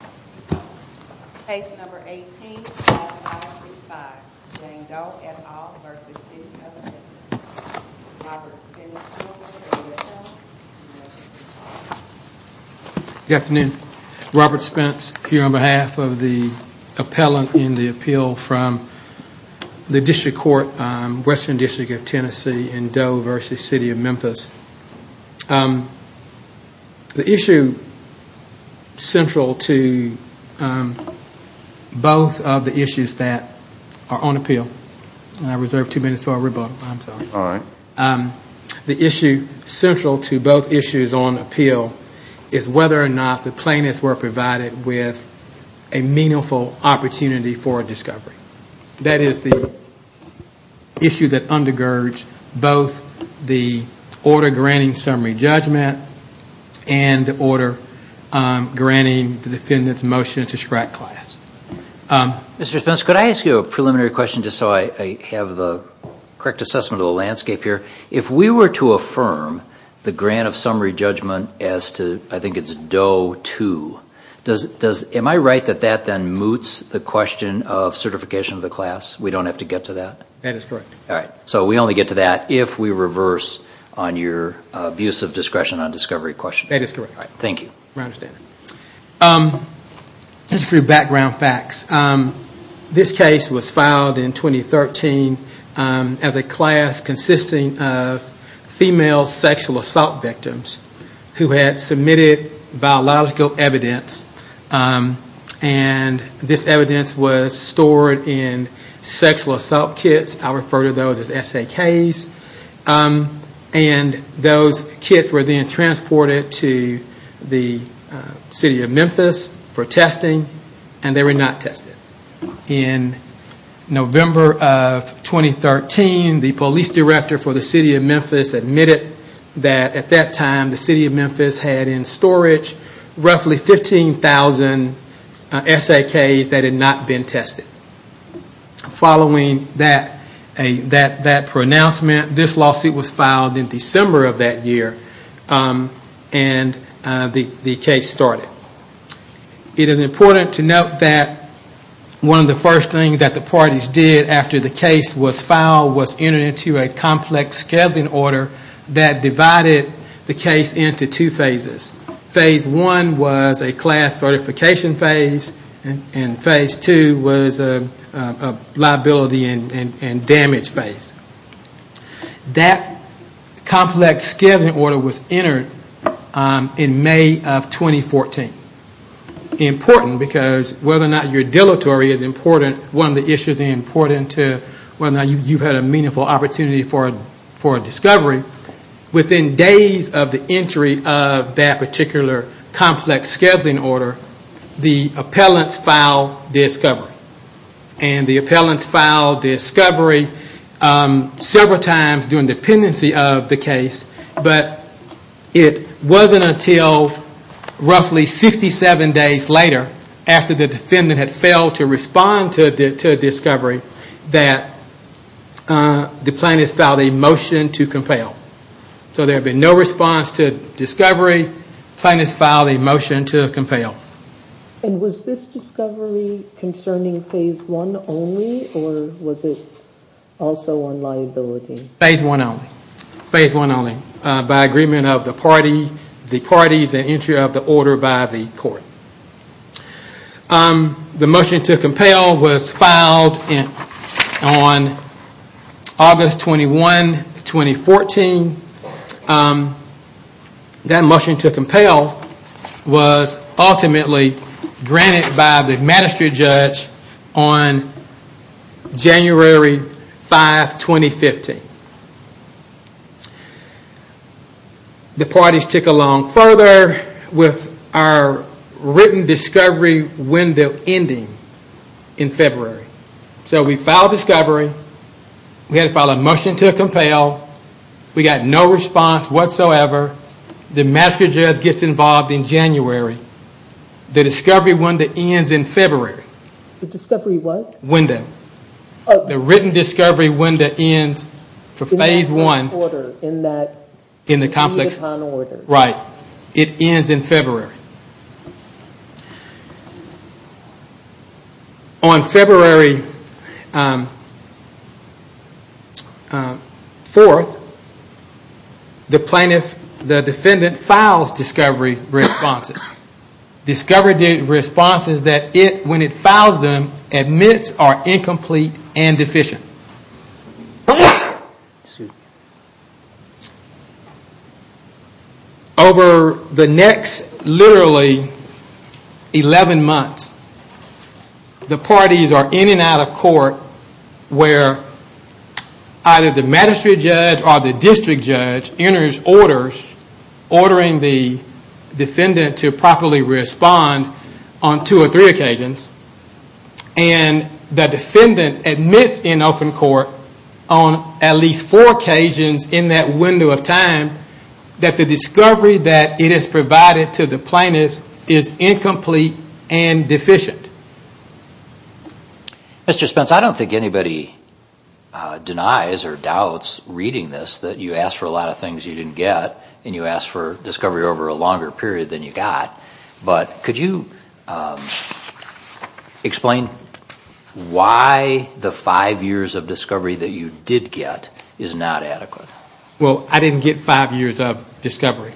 Good afternoon, Robert Spence here on behalf of the appellant in the appeal from the district court, Western District of Tennessee in Doe v. City of Memphis. The issue central to both of the issues that are on appeal is whether or not the plaintiffs were provided with a meaningful opportunity for a discovery. That is the issue that undergirds both the order granting summary judgment and the order granting the defendant's motion to scrap class. Mr. Spence, could I ask you a preliminary question just so I have the correct assessment of the landscape here? If we were to affirm the grant of summary judgment as to, I think it's Doe 2, am I right that that then moots the question of certification of the class? We don't have to get to that? That is correct. So we only get to that if we reverse on your abuse of discretion on discovery question? That is correct. Thank you. Just a few background facts. This case was filed in 2013 as a class consisting of female sexual assault victims who had submitted biological evidence and this evidence was stored in sexual assault kits. I refer to those as SAKs. And those kits were then transported to the City of Memphis for testing and they were not tested. In November of 2013, the police director for the City of Memphis admitted that at that time the City of Memphis had in storage roughly 15,000 SAKs that had not been tested. Following that pronouncement, this lawsuit was filed in December of that year and the case started. It is important to note that one of the first things that the parties did after the case was filed was enter into a complex scheduling order that divided the case into two phases. Phase one was a class certification phase and phase two was a liability and damage phase. That complex scheduling order was entered in May of 2014. Important because whether or not you are deleterious is important. One of the issues is important to whether or not you have had a meaningful opportunity for discovery. Within days of the entry of that particular complex scheduling order, the appellants filed discovery. And the appellants filed discovery several times during the pendency of the case but it wasn't until roughly 67 days later after the defendant had failed to respond to discovery that the plaintiff filed a motion to compel. So there had been no response to discovery, the plaintiff filed a motion to compel. And was this discovery concerning phase one only or was it also on liability? Phase one only. Phase one only. By agreement of the parties and entry of the order by the court. The motion to compel was filed on August 21, 2014. That motion to compel was ultimately granted by the magistrate judge on January 5, 2015. The parties took along further with our written discovery window ending in February. So we filed discovery, we had to file a motion to compel, we got no response whatsoever, the magistrate judge gets involved in January, the discovery window ends in February. The discovery what? Window. The written discovery window ends for phase one. In that order. In the complex order. Right, it ends in February. On February 4th, the plaintiff, the defendant files discovery responses. Discovery responses that it, when it files them, admits are incomplete and deficient. Over the next literally 11 months, the parties are in and out of court where either the magistrate judge or the district judge enters orders ordering the defendant to properly respond on two or three occasions and the defendant admits in open court on at least four occasions in that window of time that the discovery that it has provided to the plaintiff is incomplete and deficient. Mr. Spence, I don't think anybody denies or doubts reading this that you asked for a lot of things you didn't get and you asked for discovery over a longer period than you got, but could you explain why the five years of discovery that you did get is not adequate? Well, I didn't get five years of discovery.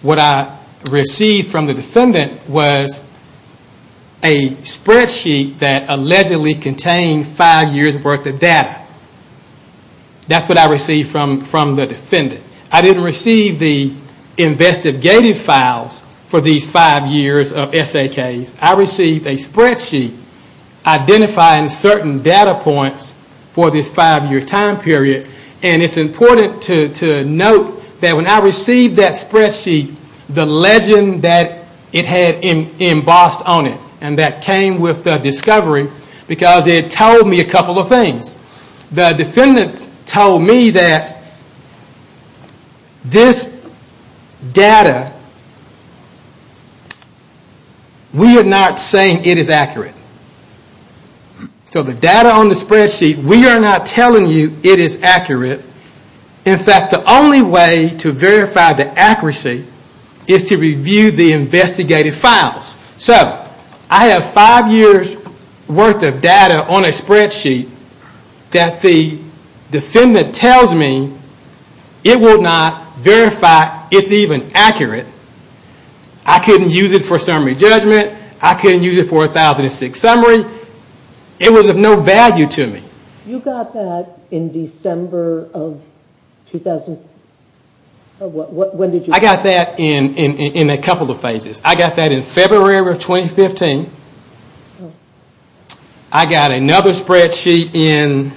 What I received from the defendant was a spreadsheet that allegedly contained five years worth of data. That's what I received from the defendant. I didn't receive the investigative files for these five years of SAKs. I received a spreadsheet identifying certain data points for this five year time period. It's important to note that when I received that spreadsheet, the legend that it had embossed on it and that came with the discovery because it told me a couple of things. The defendant told me that this data, we are not saying it is accurate. So the data on the spreadsheet, we are not telling you it is accurate. In fact, the only way to verify the accuracy is to review the investigative files. So I have five years worth of data on a spreadsheet that the defendant tells me it will not verify it's even accurate. I couldn't use it for summary judgment. I couldn't use it for a 1006 summary. It was of no value to me. You got that in December of 2000? I got that in a couple of phases. I got that in February of 2015. I got another spreadsheet in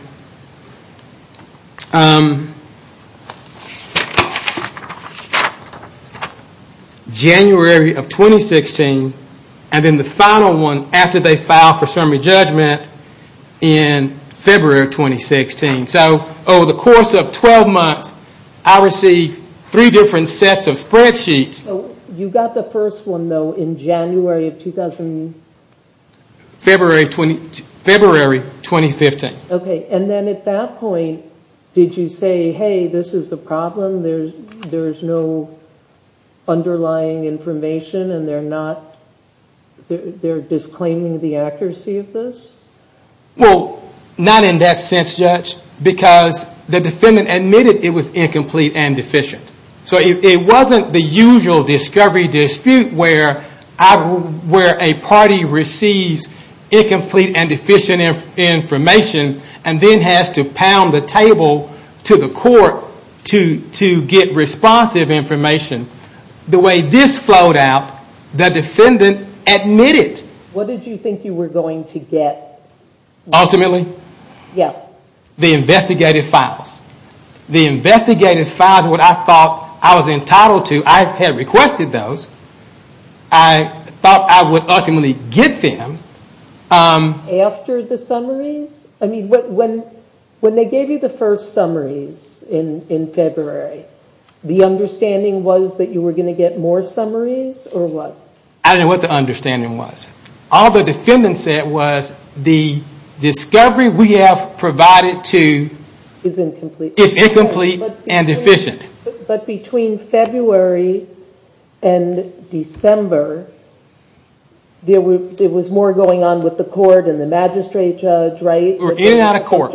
January of 2016. And then the final one after they filed for summary judgment in February of 2016. So over the course of 12 months, I received three different sets of spreadsheets. You got the first one in January of 2000? February of 2015. And then at that point, did you say, hey, this is the problem, there is no underlying information and they are disclaiming the accuracy of this? Well, not in that sense, Judge. Because the defendant admitted it was incomplete and deficient. So it wasn't the usual discovery dispute where a party receives incomplete and deficient information and then has to pound the table to the court to get responsive information. The way this flowed out, the defendant admitted. What did you think you were going to get? Ultimately? Yeah. The investigative files. The investigative files were what I thought I was entitled to. I had requested those. I thought I would ultimately get them. After the summaries? I mean, when they gave you the first summaries in February, the understanding was that you were going to get more summaries or what? I don't know what the understanding was. All the defendant said was the discovery we have provided to is incomplete and deficient. But between February and December, there was more going on with the court and the magistrate judge, right? We were in and out of court.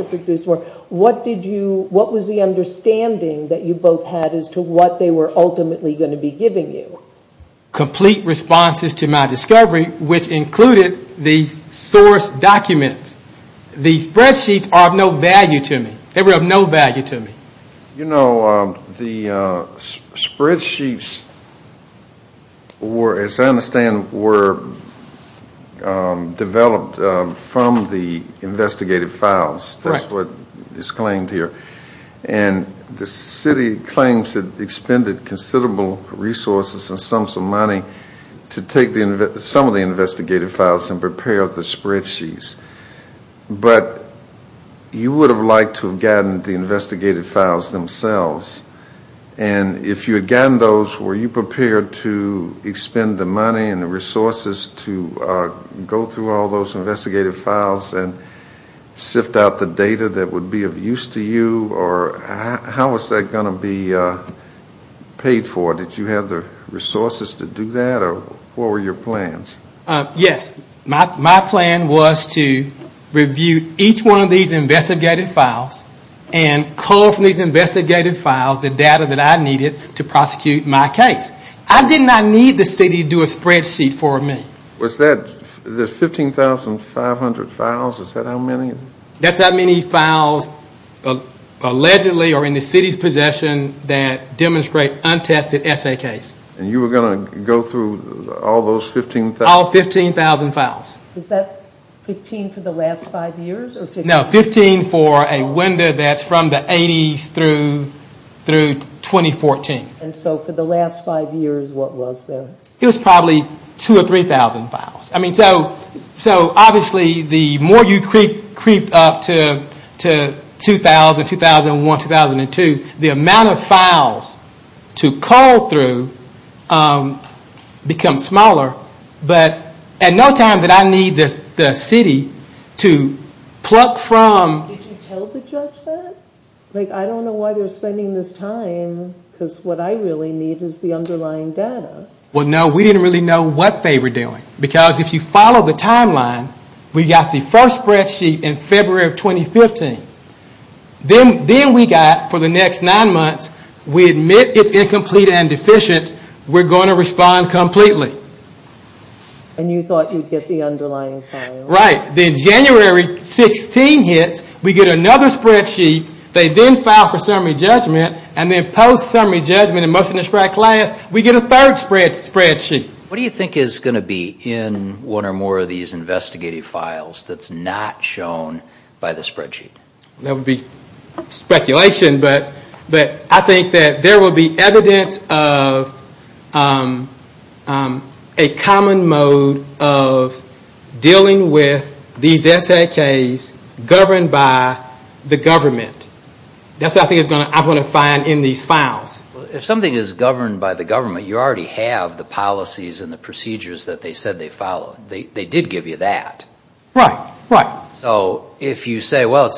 What did you, what was the understanding that you both had as to what they were ultimately going to be giving you? Complete responses to my discovery, which included the source documents. The spreadsheets are of no value to me. They were of no value to me. You know, the spreadsheets were, as I understand, were developed from the investigative files. That's what is claimed here. And the city claims it expended considerable resources and sums of money to take some of the investigative files and prepare the spreadsheets. But you would have liked to have gotten the investigative files themselves. And if you had gotten those, were you prepared to expend the money and the resources to go through all those investigative files and sift out the data that would be of use to you? Or how was that going to be paid for? Did you have the resources to do that? Or what were your plans? Yes. My plan was to review each one of these investigative files and call from these investigative files the data that I needed to prosecute my case. I did not need the city to do a spreadsheet for me. Was that the 15,500 files? Is that how many? That's how many files allegedly are in the city's possession that demonstrate untested essay case. And you were going to go through all those 15,000? All 15,000 files. Is that 15 for the last five years? No, 15 for a window that's from the 80s through 2014. And so for the last five years, what was there? It was probably 2,000 or 3,000 files. I mean, so obviously the more you creep up to 2,000, 2001, 2002, the amount of files to call through becomes smaller. But at no time did I need the city to pluck from... Did you tell the judge that? Like, I don't know why they're spending this time because what I really need is the underlying data. Well, no, we didn't really know what they were doing. Because if you follow the timeline, we got the first spreadsheet in February of 2015. Then we got, for the next nine months, we admit it's incomplete and deficient. We're going to respond completely. And you thought you'd get the underlying file? Right. Then January 16 hits, we get another spreadsheet. They then file for summary judgment. And then post-summary judgment and motion to spread class, we get a third spreadsheet. What do you think is going to be in one or more of these investigative files that's not shown by the spreadsheet? That would be speculation. But I think that there will be evidence of a common mode of dealing with these SAKs governed by the government. That's what I think I'm going to find in these files. If something is governed by the government, you already have the policies and the procedures that they said they followed. They did give you that. Right, right. So if you say, well,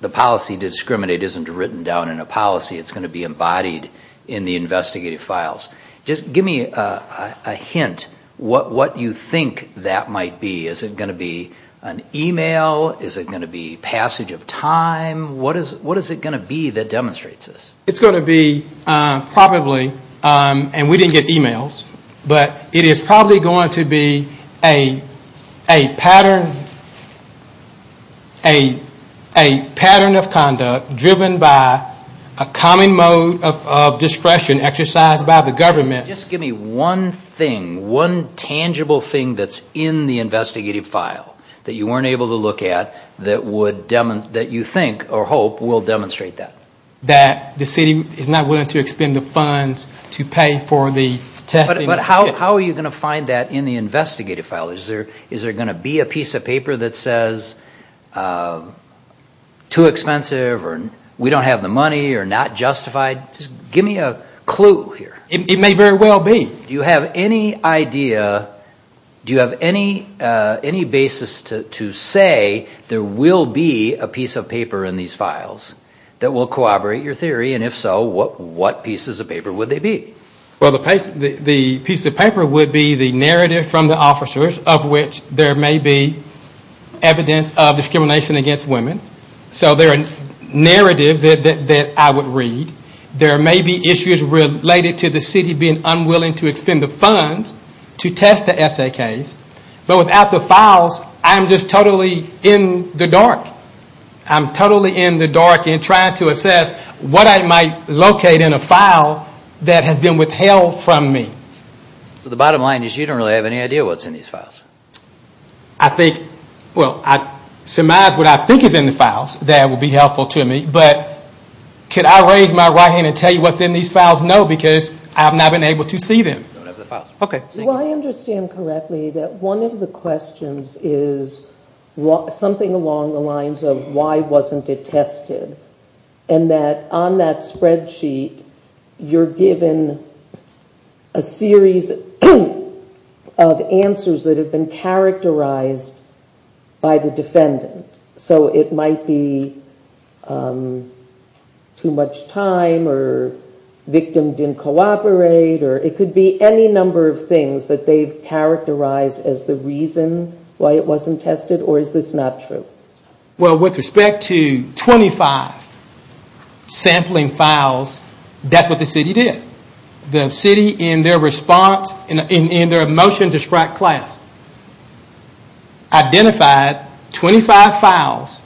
the policy to discriminate isn't written down in a policy, it's going to be embodied in the investigative files. Just give me a hint what you think that might be. Is it going to be an email? Is it going to be passage of time? What is it going to be that demonstrates this? It's going to be probably, and we didn't get emails, but it is probably going to be a pattern of conduct driven by a common mode of discretion exercised by the government. Just give me one thing, one tangible thing that's in the investigative file that you weren't able to look at that you think or hope will demonstrate that. That the city is not willing to expend the funds to pay for the testing. But how are you going to find that in the investigative file? Is there going to be a piece of paper that says too expensive or we don't have the money or not justified? Just give me a clue here. It may very well be. Do you have any idea, do you have any basis to say there will be a piece of paper in these files that will corroborate your theory? And if so, what pieces of paper would they be? Well, the piece of paper would be the narrative from the officers of which there may be evidence of discrimination against women. So there are narratives that I would read. There may be issues related to the city being unwilling to expend the funds to test the SAKs. But without the files, I'm just totally in the dark. I'm totally in the dark and trying to assess what I might locate in a file that has been withheld from me. The bottom line is you don't really have any idea what's in these files. I think, well, I surmise what I think is in the files. That would be helpful to me. But could I raise my right hand and tell you what's in these files? No, because I have not been able to see them. Do I understand correctly that one of the questions is something along the lines of why wasn't it tested? And that on that spreadsheet, you're given a series of answers that have been characterized by the defendant. So it might be too much time or victim didn't cooperate. Or it could be any number of things that they've characterized as the reason why it wasn't tested. Or is this not true? Well, with respect to 25 sampling files, that's what the city did. The city, in their motion to strike class, identified 25 files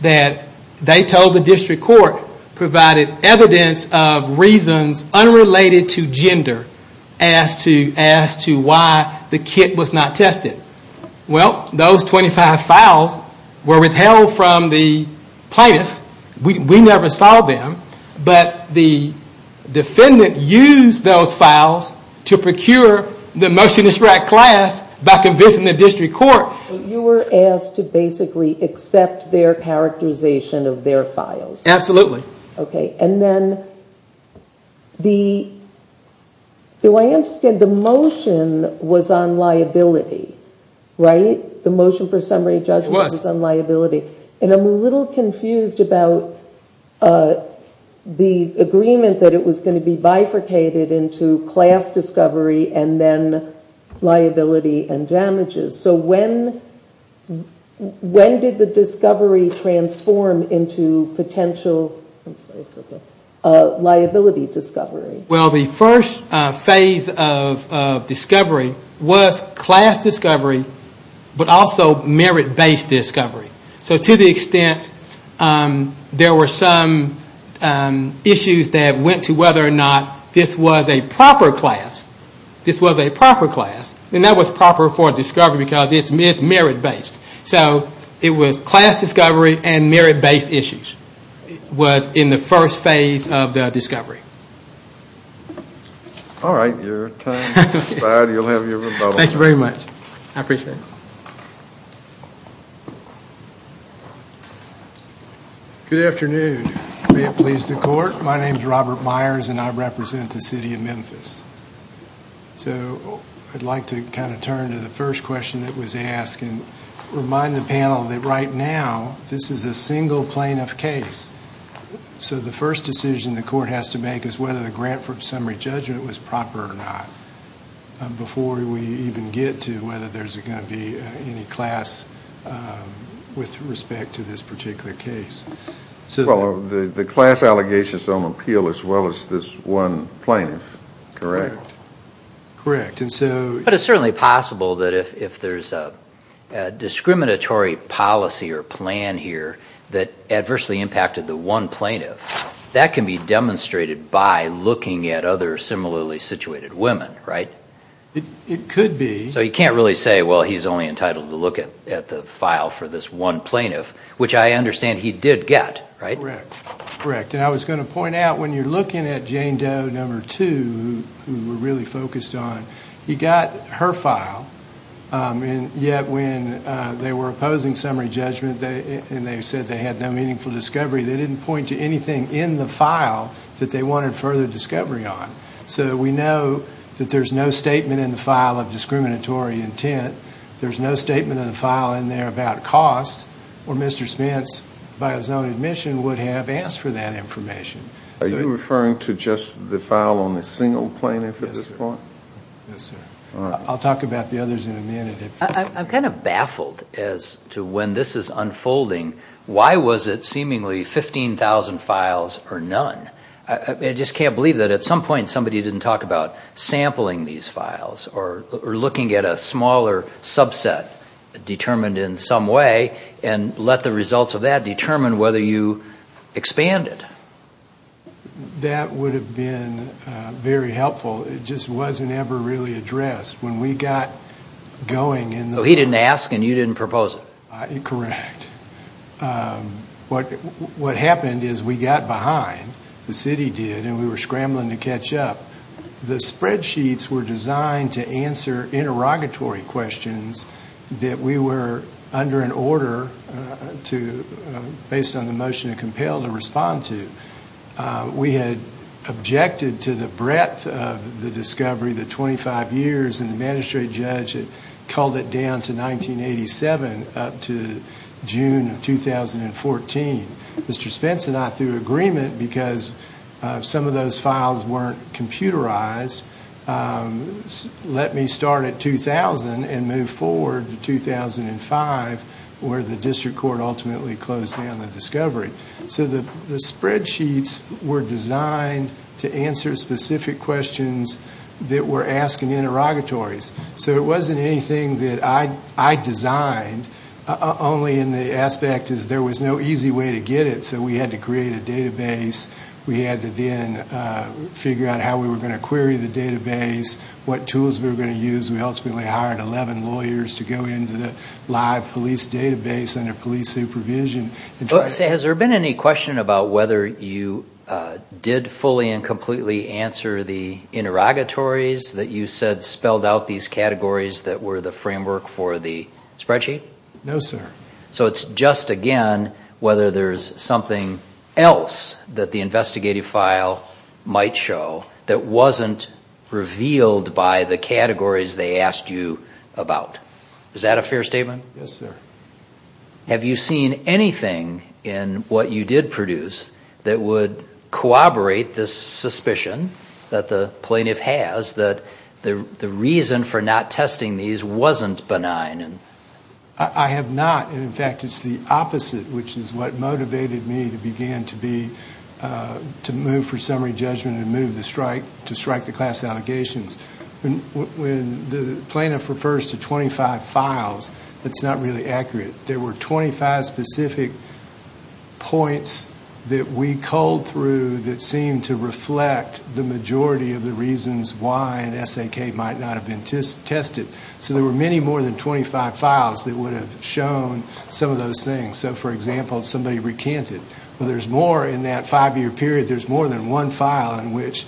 that they told the district court provided evidence of reasons unrelated to gender as to why the kit was not tested. Well, those 25 files were withheld from the plaintiff. We never saw them. But the defendant used those files to procure the motion to strike class by convincing the district court. You were asked to basically accept their characterization of their files. Absolutely. Okay. And then, do I understand, the motion was on liability, right? The motion for summary judgment was on liability. And I'm a little confused about the agreement that it was going to be bifurcated into class discovery and then liability and damages. So when did the discovery transform into potential liability discovery? Well, the first phase of discovery was class discovery, but also merit-based discovery. So to the extent there were some issues that went to whether or not this was a proper class, this was a proper class. And that was proper for discovery because it's merit-based. So it was class discovery and merit-based issues was in the first phase of the discovery. All right. Your time is expired. You'll have your rebuttal. Thank you very much. I appreciate it. Good afternoon. May it please the court. My name is Robert Myers, and I represent the city of Memphis. So I'd like to kind of turn to the first question that was asked and remind the panel that right now, this is a single plaintiff case. So the first decision the court has to make is whether the grant for summary judgment was proper or not. Before we even get to whether there's going to be any class with respect to this particular case. Well, the class allegations don't appeal as well as this one plaintiff, correct? Correct. And so... But it's certainly possible that if there's a discriminatory policy or plan here that adversely impacted the one plaintiff, that can be demonstrated by looking at other similarly situated women, right? It could be. So you can't really say, well, he's only entitled to look at the file for this one plaintiff, which I understand he did get, right? Correct. Correct. And I was going to point out, when you're looking at Jane Doe, number two, who we're really focused on, he got her file, and yet when they were opposing summary judgment and they said they had no meaningful discovery, they didn't point to anything in the file that they wanted further discovery on. So we know that there's no statement in the file of discriminatory intent, there's no statement in the file in there about cost, or Mr. Spence, by his own admission, would have asked for that information. Are you referring to just the file on the single plaintiff at this point? Yes, sir. I'll talk about the others in a minute. I'm kind of baffled as to when this is unfolding. Why was it seemingly 15,000 files or none? I just can't believe that at some point somebody didn't talk about sampling these files, or looking at a smaller subset determined in some way, and let the results of that determine whether you expanded. That would have been very helpful. It just wasn't ever really addressed. He didn't ask, and you didn't propose it. Correct. What happened is we got behind, the city did, and we were scrambling to catch up. The spreadsheets were designed to answer interrogatory questions that we were under an order, based on the motion of COMPEL, to respond to. We had objected to the breadth of the discovery, the 25 years, and the magistrate judge had called it down to 1987, up to June of 2014. Mr. Spence and I threw an agreement because some of those files weren't computerized. Let me start at 2000 and move forward to 2005, where the district court ultimately closed down the discovery. The spreadsheets were designed to answer specific questions that were asking interrogatories. It wasn't anything that I designed, only in the aspect that there was no easy way to get it. We had to create a database. We had to then figure out how we were going to query the database, what tools we were going to use. We ultimately hired 11 lawyers to go into the live police database under police supervision. Has there been any question about whether you did fully and completely answer the interrogatories that you said spelled out these categories that were the framework for the spreadsheet? No, sir. So it's just, again, whether there's something else that the investigative file might show that wasn't revealed by the categories they asked you about. Is that a fair statement? Yes, sir. Have you seen anything in what you did produce that would corroborate this suspicion that the plaintiff has that the reason for not testing these wasn't benign? I have not. In fact, it's the opposite, which is what motivated me to begin to move for summary judgment and move to strike the class allegations. When the plaintiff refers to 25 files, that's not really accurate. There were 25 specific points that we culled through that seemed to reflect the majority of the reasons why an SAK might not have been tested. So there were many more than 25 files that would have shown some of those things. So, for example, somebody recanted. Well, there's more in that five-year period. There's more than one file in which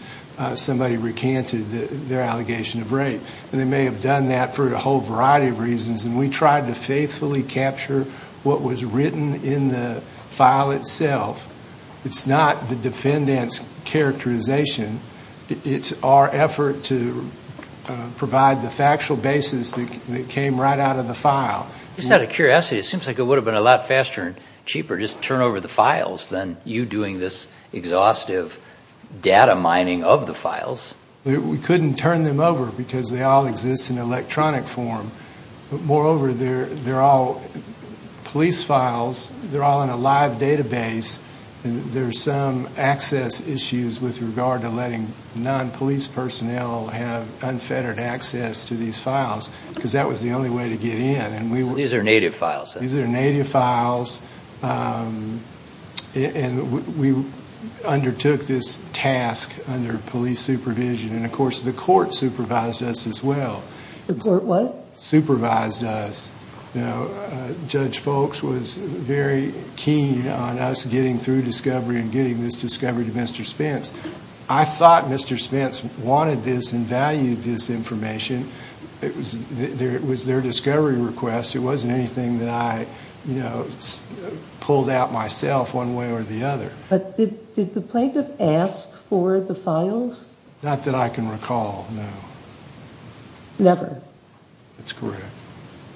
somebody recanted their allegation of rape. And they may have done that for a whole variety of reasons. And we tried to faithfully capture what was written in the file itself. It's not the defendant's characterization. It's our effort to provide the factual basis that came right out of the file. Just out of curiosity, it seems like it would have been a lot faster and cheaper to just turn over the files than you doing this exhaustive data mining of the files. We couldn't turn them over because they all exist in electronic form. Moreover, they're all police files. They're all in a live database. There's some access issues with regard to letting non-police personnel have unfettered access to these files because that was the only way to get in. These are native files. These are native files. And we undertook this task under police supervision. And, of course, the court supervised us as well. The court what? Supervised us. Judge Folks was very keen on us getting through discovery and getting this discovery to Mr. Spence. I thought Mr. Spence wanted this and valued this information. It was their discovery request. It wasn't anything that I pulled out myself one way or the other. But did the plaintiff ask for the files? Not that I can recall, no. Never? That's correct.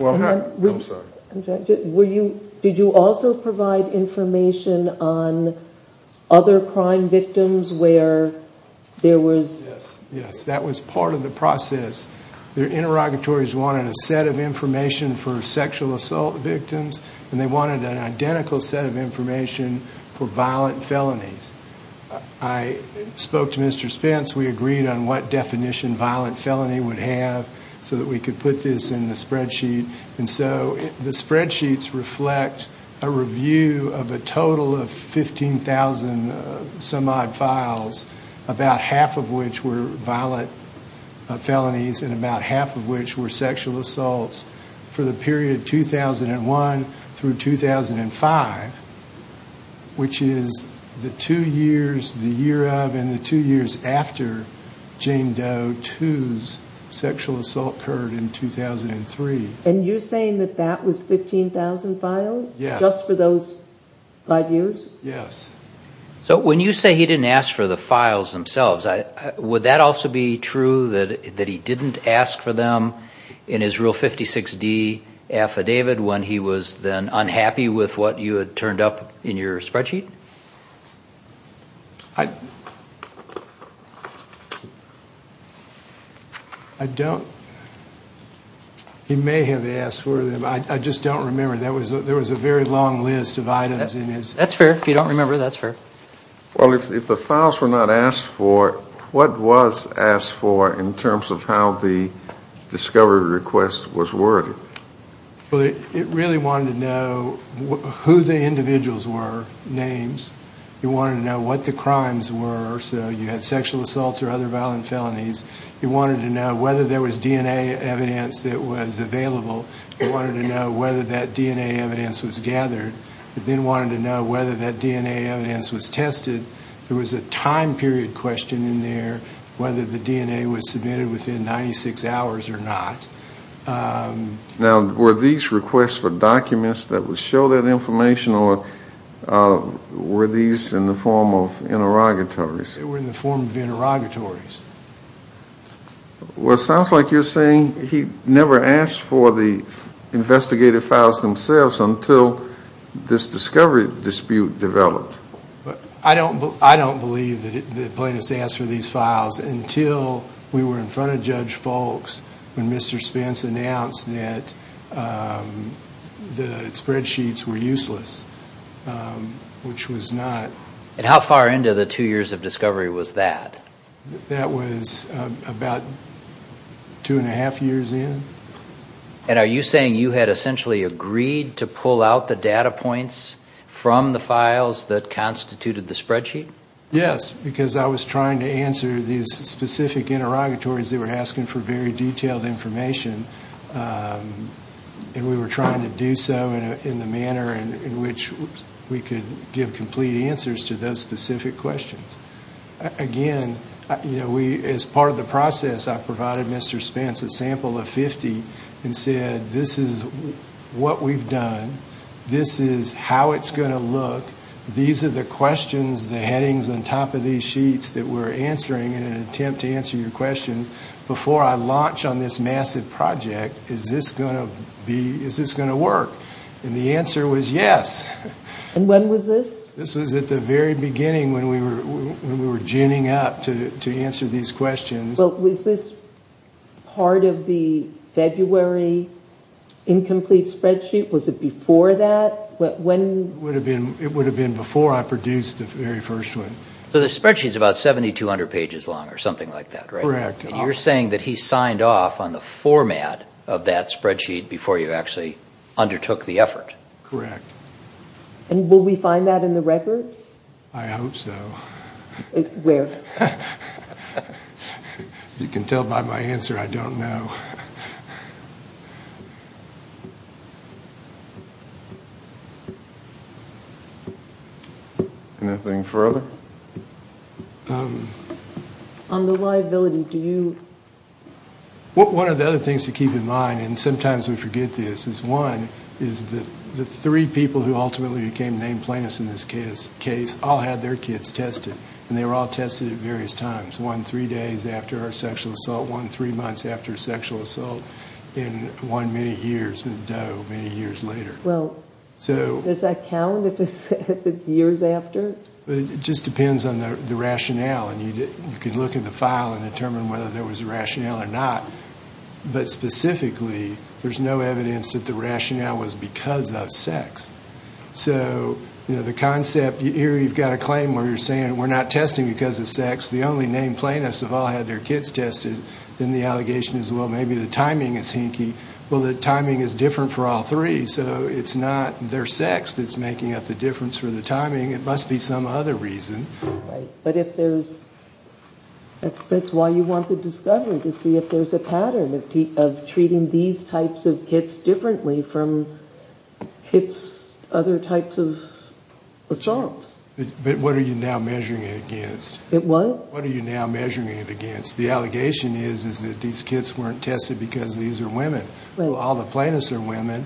I'm sorry. Did you also provide information on other crime victims where there was? Yes, yes. That was part of the process. Their interrogatories wanted a set of information for sexual assault victims and they wanted an identical set of information for violent felonies. I spoke to Mr. Spence. We agreed on what definition violent felony would have so that we could put this in the spreadsheet. And so the spreadsheets reflect a review of a total of 15,000 some odd files, about half of which were violent felonies and about half of which were sexual assaults for the period 2001 through 2005, which is the two years, the year of and the two years after Jane Doe II's sexual assault occurred in 2003. And you're saying that that was 15,000 files? Yes. Just for those five years? Yes. So when you say he didn't ask for the files themselves, would that also be true that he didn't ask for them in his Rule 56D affidavit when he was then unhappy with what you had turned up in your spreadsheet? I don't... He may have asked for them. I just don't remember. There was a very long list of items in his... That's fair. If you don't remember, that's fair. Well, if the files were not asked for, what was asked for in terms of how the discovery request was worded? Well, it really wanted to know who the individuals were, names. It wanted to know what the crimes were, so you had sexual assaults or other violent felonies. It wanted to know whether there was DNA evidence that was available. It wanted to know whether that DNA evidence was gathered. It then wanted to know whether that DNA evidence was tested. There was a time period question in there, whether the DNA was submitted within 96 hours or not. Now, were these requests for documents that would show that information or were these in the form of interrogatories? They were in the form of interrogatories. Well, it sounds like you're saying he never asked for the this discovery dispute developed. I don't believe that Plaintiffs asked for these files until we were in front of Judge Foulkes when Mr. Spence announced that the spreadsheets were useless, which was not... And how far into the two years of discovery was that? That was about two and a half years in. And are you saying you had essentially agreed to pull out the data points from the files that constituted the spreadsheet? Yes, because I was trying to answer these specific interrogatories that were asking for very detailed information. And we were trying to do so in the manner in which we could give complete answers to those specific questions. Again, as part of the process, I provided Mr. Spence a sample of 50 and said, this is what we've done. This is how it's going to look. These are the questions, the headings on top of these sheets that we're answering in an attempt to answer your questions. Before I launch on this massive project, is this going to work? And the answer was yes. And when was this? This was at the very beginning when we were ginning up to answer these questions. Was this part of the February incomplete spreadsheet? Was it before that? It would have been before I produced the very first one. So the spreadsheet is about 7,200 pages long or something like that, right? Correct. And you're saying that he signed off on the format of that spreadsheet before you actually undertook the effort? Correct. And will we find that in the records? I hope so. Where? You can tell by my answer, I don't know. Anything further? On the liability, do you... One of the other things to keep in mind, and sometimes we forget this, is one, is the three people who ultimately became named plaintiffs in this case all had their kids tested. And they were all tested at various times. One three days after a sexual assault, one three months after a sexual assault, and one many years, many years later. Well, does that count if it's years after? It just depends on the rationale. You can look at the file and determine whether there was a rationale or not. But specifically, there's no evidence that the rationale was because of sex. So the concept, here you've got a claim where you're saying we're not testing because of sex. The only named plaintiffs have all had their kids tested. Then the allegation is, well, maybe the timing is hinky. Well, the timing is different for all three. So it's not their sex that's making up the difference for the timing. It must be some other reason. Right, but if there's... That's why you want the discovery, to see if there's a pattern of treating these types of kids differently from kids, other types of assaults. But what are you now measuring it against? It what? What are you now measuring it against? The allegation is that these kids weren't tested because these are women. Well, all the plaintiffs are women.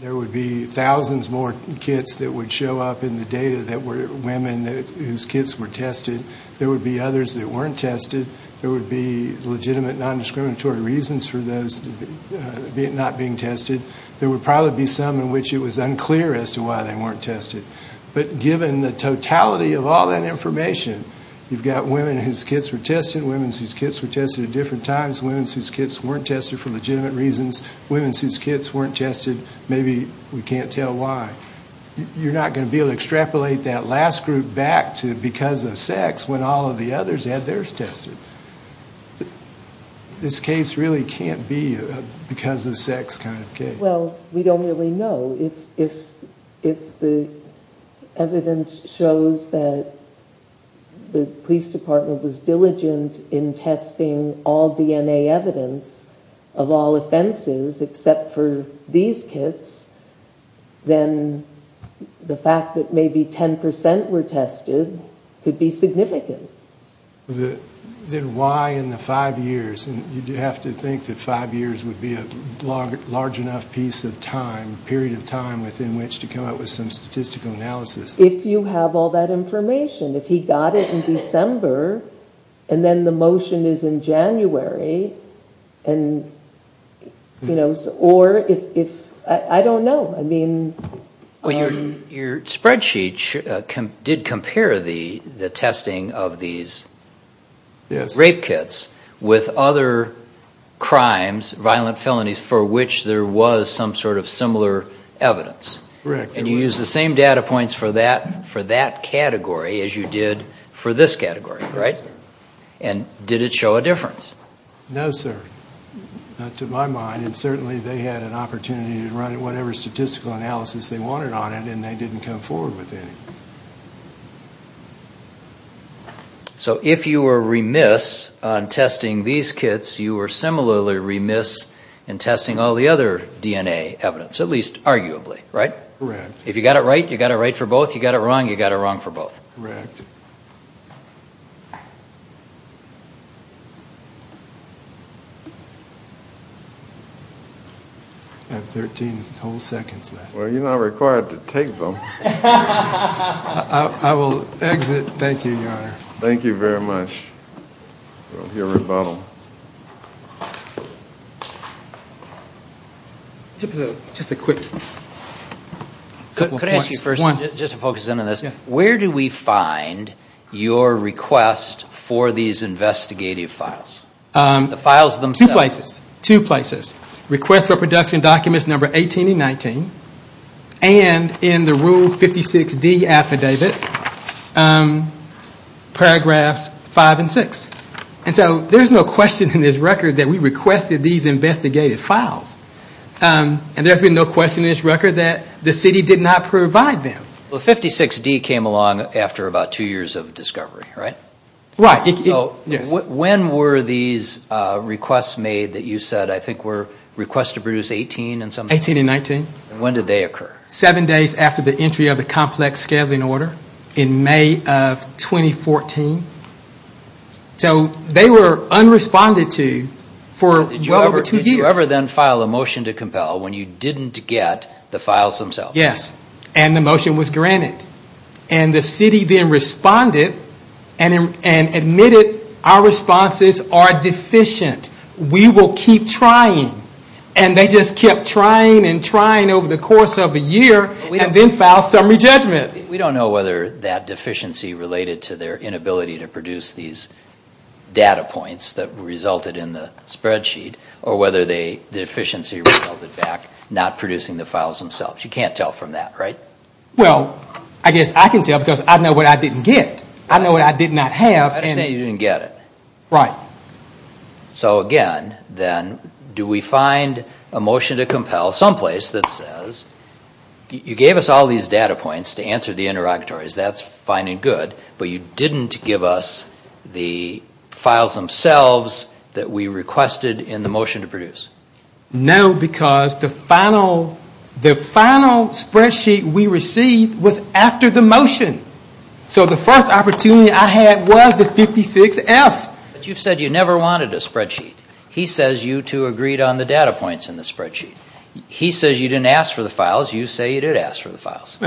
There would be thousands more kids that would show up in the data that were women whose kids were tested. There would be others that weren't tested. There would be legitimate, non-discriminatory reasons for those not being tested. There would probably be some in which it was unclear as to why they weren't tested. But given the totality of all that information, you've got women whose kids were tested, women whose kids were tested at different times, women whose kids weren't tested for legitimate reasons, women whose kids weren't tested, maybe we can't tell why. You're not going to be able to extrapolate that last group back to because of sex when all of the others had theirs tested. This case really can't be a because of sex kind of case. Well, we don't really know. If the evidence shows that the police department was diligent in testing all DNA evidence of all offenses except for these kids, then the fact that maybe 10% were tested could be significant. Then why in the five years? You have to think that five years would be a large enough piece of time, period of time within which to come up with some statistical analysis. If you have all that information, if he got it in December and then the motion is in January or if... I don't know. Your spreadsheet did compare the testing of these rape kits with other crimes, violent felonies for which there was some sort of similar evidence. And you used the same data points for that category as you did for this category, right? And did it show a difference? No, sir. Not to my mind. And certainly they had an opportunity to run whatever statistical analysis they wanted on it and they didn't come forward with any. So if you were remiss on testing these kits, you were similarly remiss in testing all the other DNA evidence, at least arguably, right? Correct. If you got it right, you got it right for both. If you got it wrong, you got it wrong for both. I have 13 whole seconds left. Well, you're not required to take them. I will exit. Thank you, Your Honor. Thank you very much. I don't hear a rebuttal. Just a quick couple of points. Where do we find your request for these investigative files? Two places. Two places. Request for production documents number 18 and 19 and in the Rule 56D affidavit paragraphs 5 and 6. There's no question in this record that we requested these investigative files. There's been no question in this record that the city did not provide them. 56D came along after about two years of discovery, right? Right. When were these requests made that you said I think were requests to produce 18 and 19? When did they occur? Seven days after the entry of the complex scheduling order in May of 2014. They were unresponded to for well over two years. Did you ever then file a motion to compel when you didn't get the files themselves? Yes, and the motion was granted. The city then responded and admitted our responses are deficient. We will keep trying. They just kept trying and trying over the course of a year and then filed summary judgment. We don't know whether that deficiency related to their inability to produce these data points that resulted in the spreadsheet or whether the deficiency resulted back not producing the files themselves. You can't tell from that, right? Well, I guess I can tell because I know what I didn't get. I know what I did not have. So again, then, do we find a motion to compel someplace that says you gave us all these data points to answer the interrogatories, that's fine and good, but you didn't give us the files themselves that we requested in the motion to produce? No, because the final spreadsheet we received was after the motion. So the first opportunity I had was the 56F. You said you never wanted a spreadsheet. He says you two agreed on the data points in the spreadsheet. He says you didn't ask for the files. You say you did ask for the files.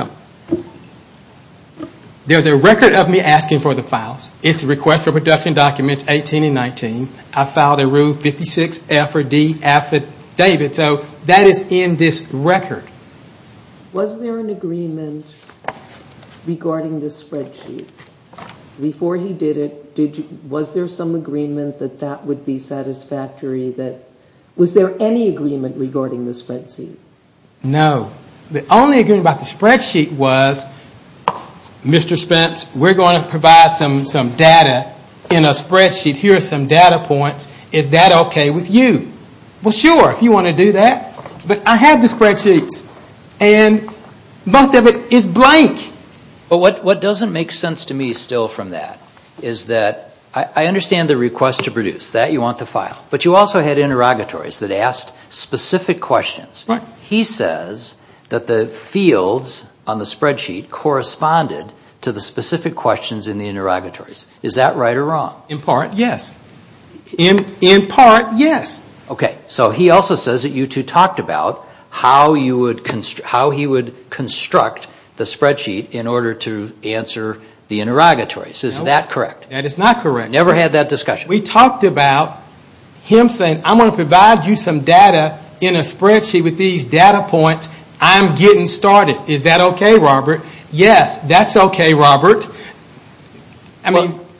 There's a record of me asking for the files. It's a request for production documents 18 and 19. I filed a rule 56F or D affidavit, so that is in this record. Was there an agreement regarding this spreadsheet? Before he did it, was there some agreement that that would be satisfactory? Was there any agreement? No. The only agreement about the spreadsheet was Mr. Spence, we're going to provide some data in a spreadsheet. Here are some data points. Is that okay with you? Well, sure, if you want to do that. But I had the spreadsheets and most of it is blank. But what doesn't make sense to me still from that is that I understand the request to produce, that you want the file, but you also had interrogatories that asked specific questions. He says that the fields on the spreadsheet corresponded to the specific questions in the interrogatories. Is that right or wrong? In part, yes. In part, yes. Okay, so he also says that you two talked about how he would construct the spreadsheet in order to answer the interrogatories. Is that correct? That is not correct. Never had that discussion? We talked about him saying, I'm going to provide you some data in a spreadsheet with these data points. I'm getting started. Is that okay, Robert? Yes, that's okay, Robert.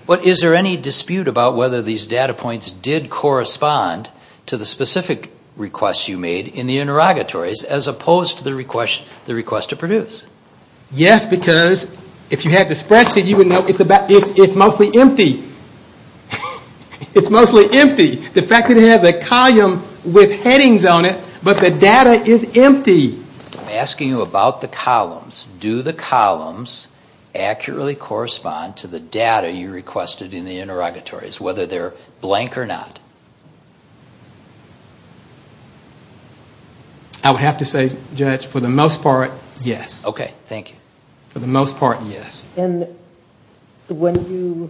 Is there any dispute about whether these data points did correspond to the specific requests you made in the interrogatories as opposed to the request to produce? Yes, because if you had the spreadsheet, you would know it's mostly empty. It's mostly empty. The fact that it has a column with headings on it, but the data is empty. I'm asking you about the columns. Do the columns accurately correspond to the data you requested in the interrogatories, whether they're blank or not? I would have to say, Judge, for the most part, yes. Okay, thank you. For the most part, yes. And when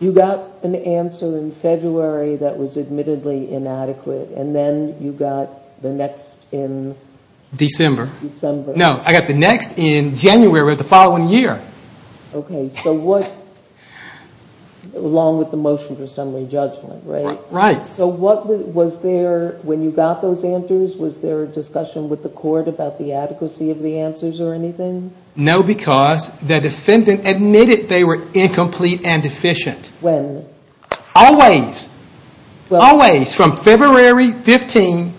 you got an answer in February that was admittedly inadequate, and then you got the next in December. No, I got the next in January of the following year. Okay, so what, along with the motion for summary judgment, right? Right. When you got those answers, was there a discussion with the court about the adequacy of the answers or anything? No, because the defendant admitted they were incomplete and deficient. When? Always. Always, from February 15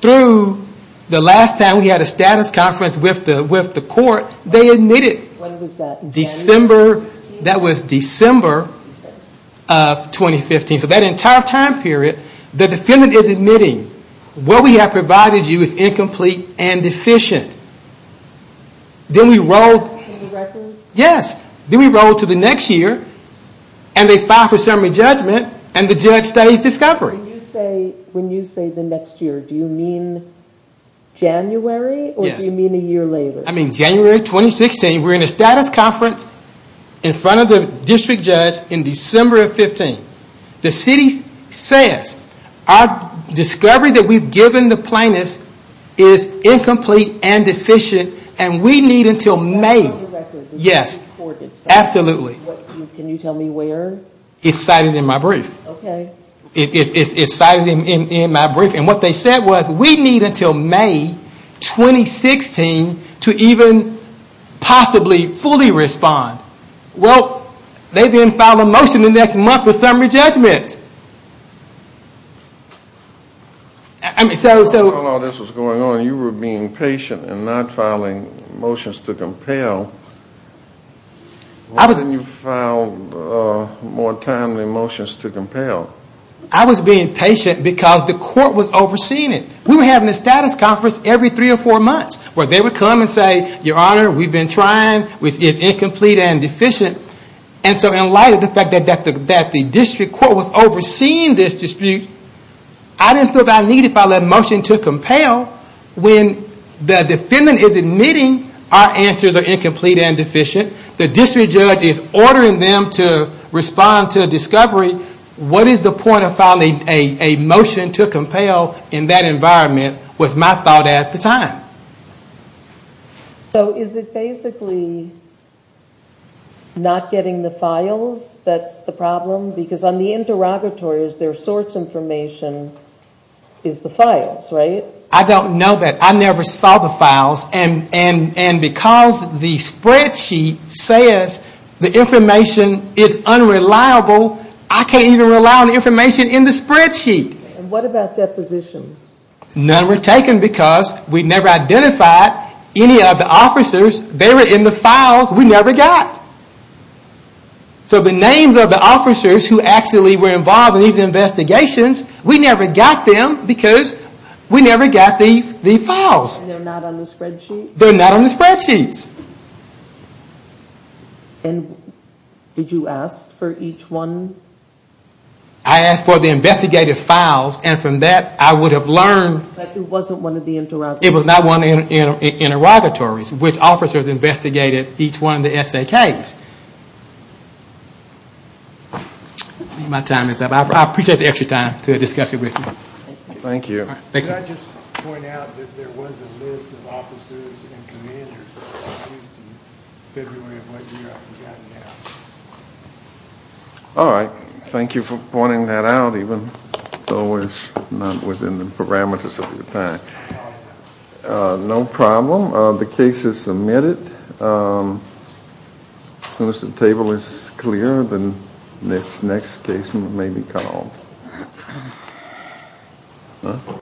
through the last time we had a status conference with the court, they admitted. When was that? That was December of 2015. So that entire time period, the defendant is admitting what we have provided you is incomplete and deficient. Then we rolled... Yes, then we rolled to the next year, and they filed for summary judgment, and the judge studies discovery. When you say the next year, do you mean January? Yes. Or do you mean a year later? I mean January 2016, we're in a status conference in front of the district judge in December of 2015. The city says our discovery that we've is incomplete and deficient, and we need until May. Yes, absolutely. Can you tell me where? It's cited in my brief. It's cited in my brief, and what they said was we need until May 2016 to even possibly fully respond. Well, they didn't file a motion the next month for summary judgment. I mean, so... While all this was going on, you were being patient and not filing motions to compel. I was... Why didn't you file more timely motions to compel? I was being patient because the court was overseeing it. We were having a status conference every three or four months where they would come and say, Your Honor, we've been trying. It's incomplete and deficient. And so in light of the fact that the district court was overseeing this dispute, I didn't feel that I needed to file a motion to compel when the defendant is admitting our answers are incomplete and deficient. The district judge is ordering them to respond to a discovery. What is the point of filing a motion to compel in that environment was my thought at the time. So is it basically not getting the because on the interrogatories, their source information is the files, right? I don't know that. I never saw the files. And because the spreadsheet says the information is unreliable, I can't even rely on the information in the spreadsheet. What about depositions? None were taken because we never identified any of the officers. They were in the files. We never got. So the names of the officers who actually were involved in these investigations, we never got them because we never got the files. And they're not on the spreadsheet? They're not on the spreadsheets. And did you ask for each one? I asked for the investigated files and from that I would have learned. But it wasn't one of the interrogatories? It was not one of the interrogatories. Which officers investigated each one of the S.A.K.'s? My time is up. I appreciate the extra time to discuss it with you. Thank you. Alright. Thank you for pointing that out even though it's not within the parameters of your time. No problem. The case is submitted. As soon as the table is clear the next case may be called.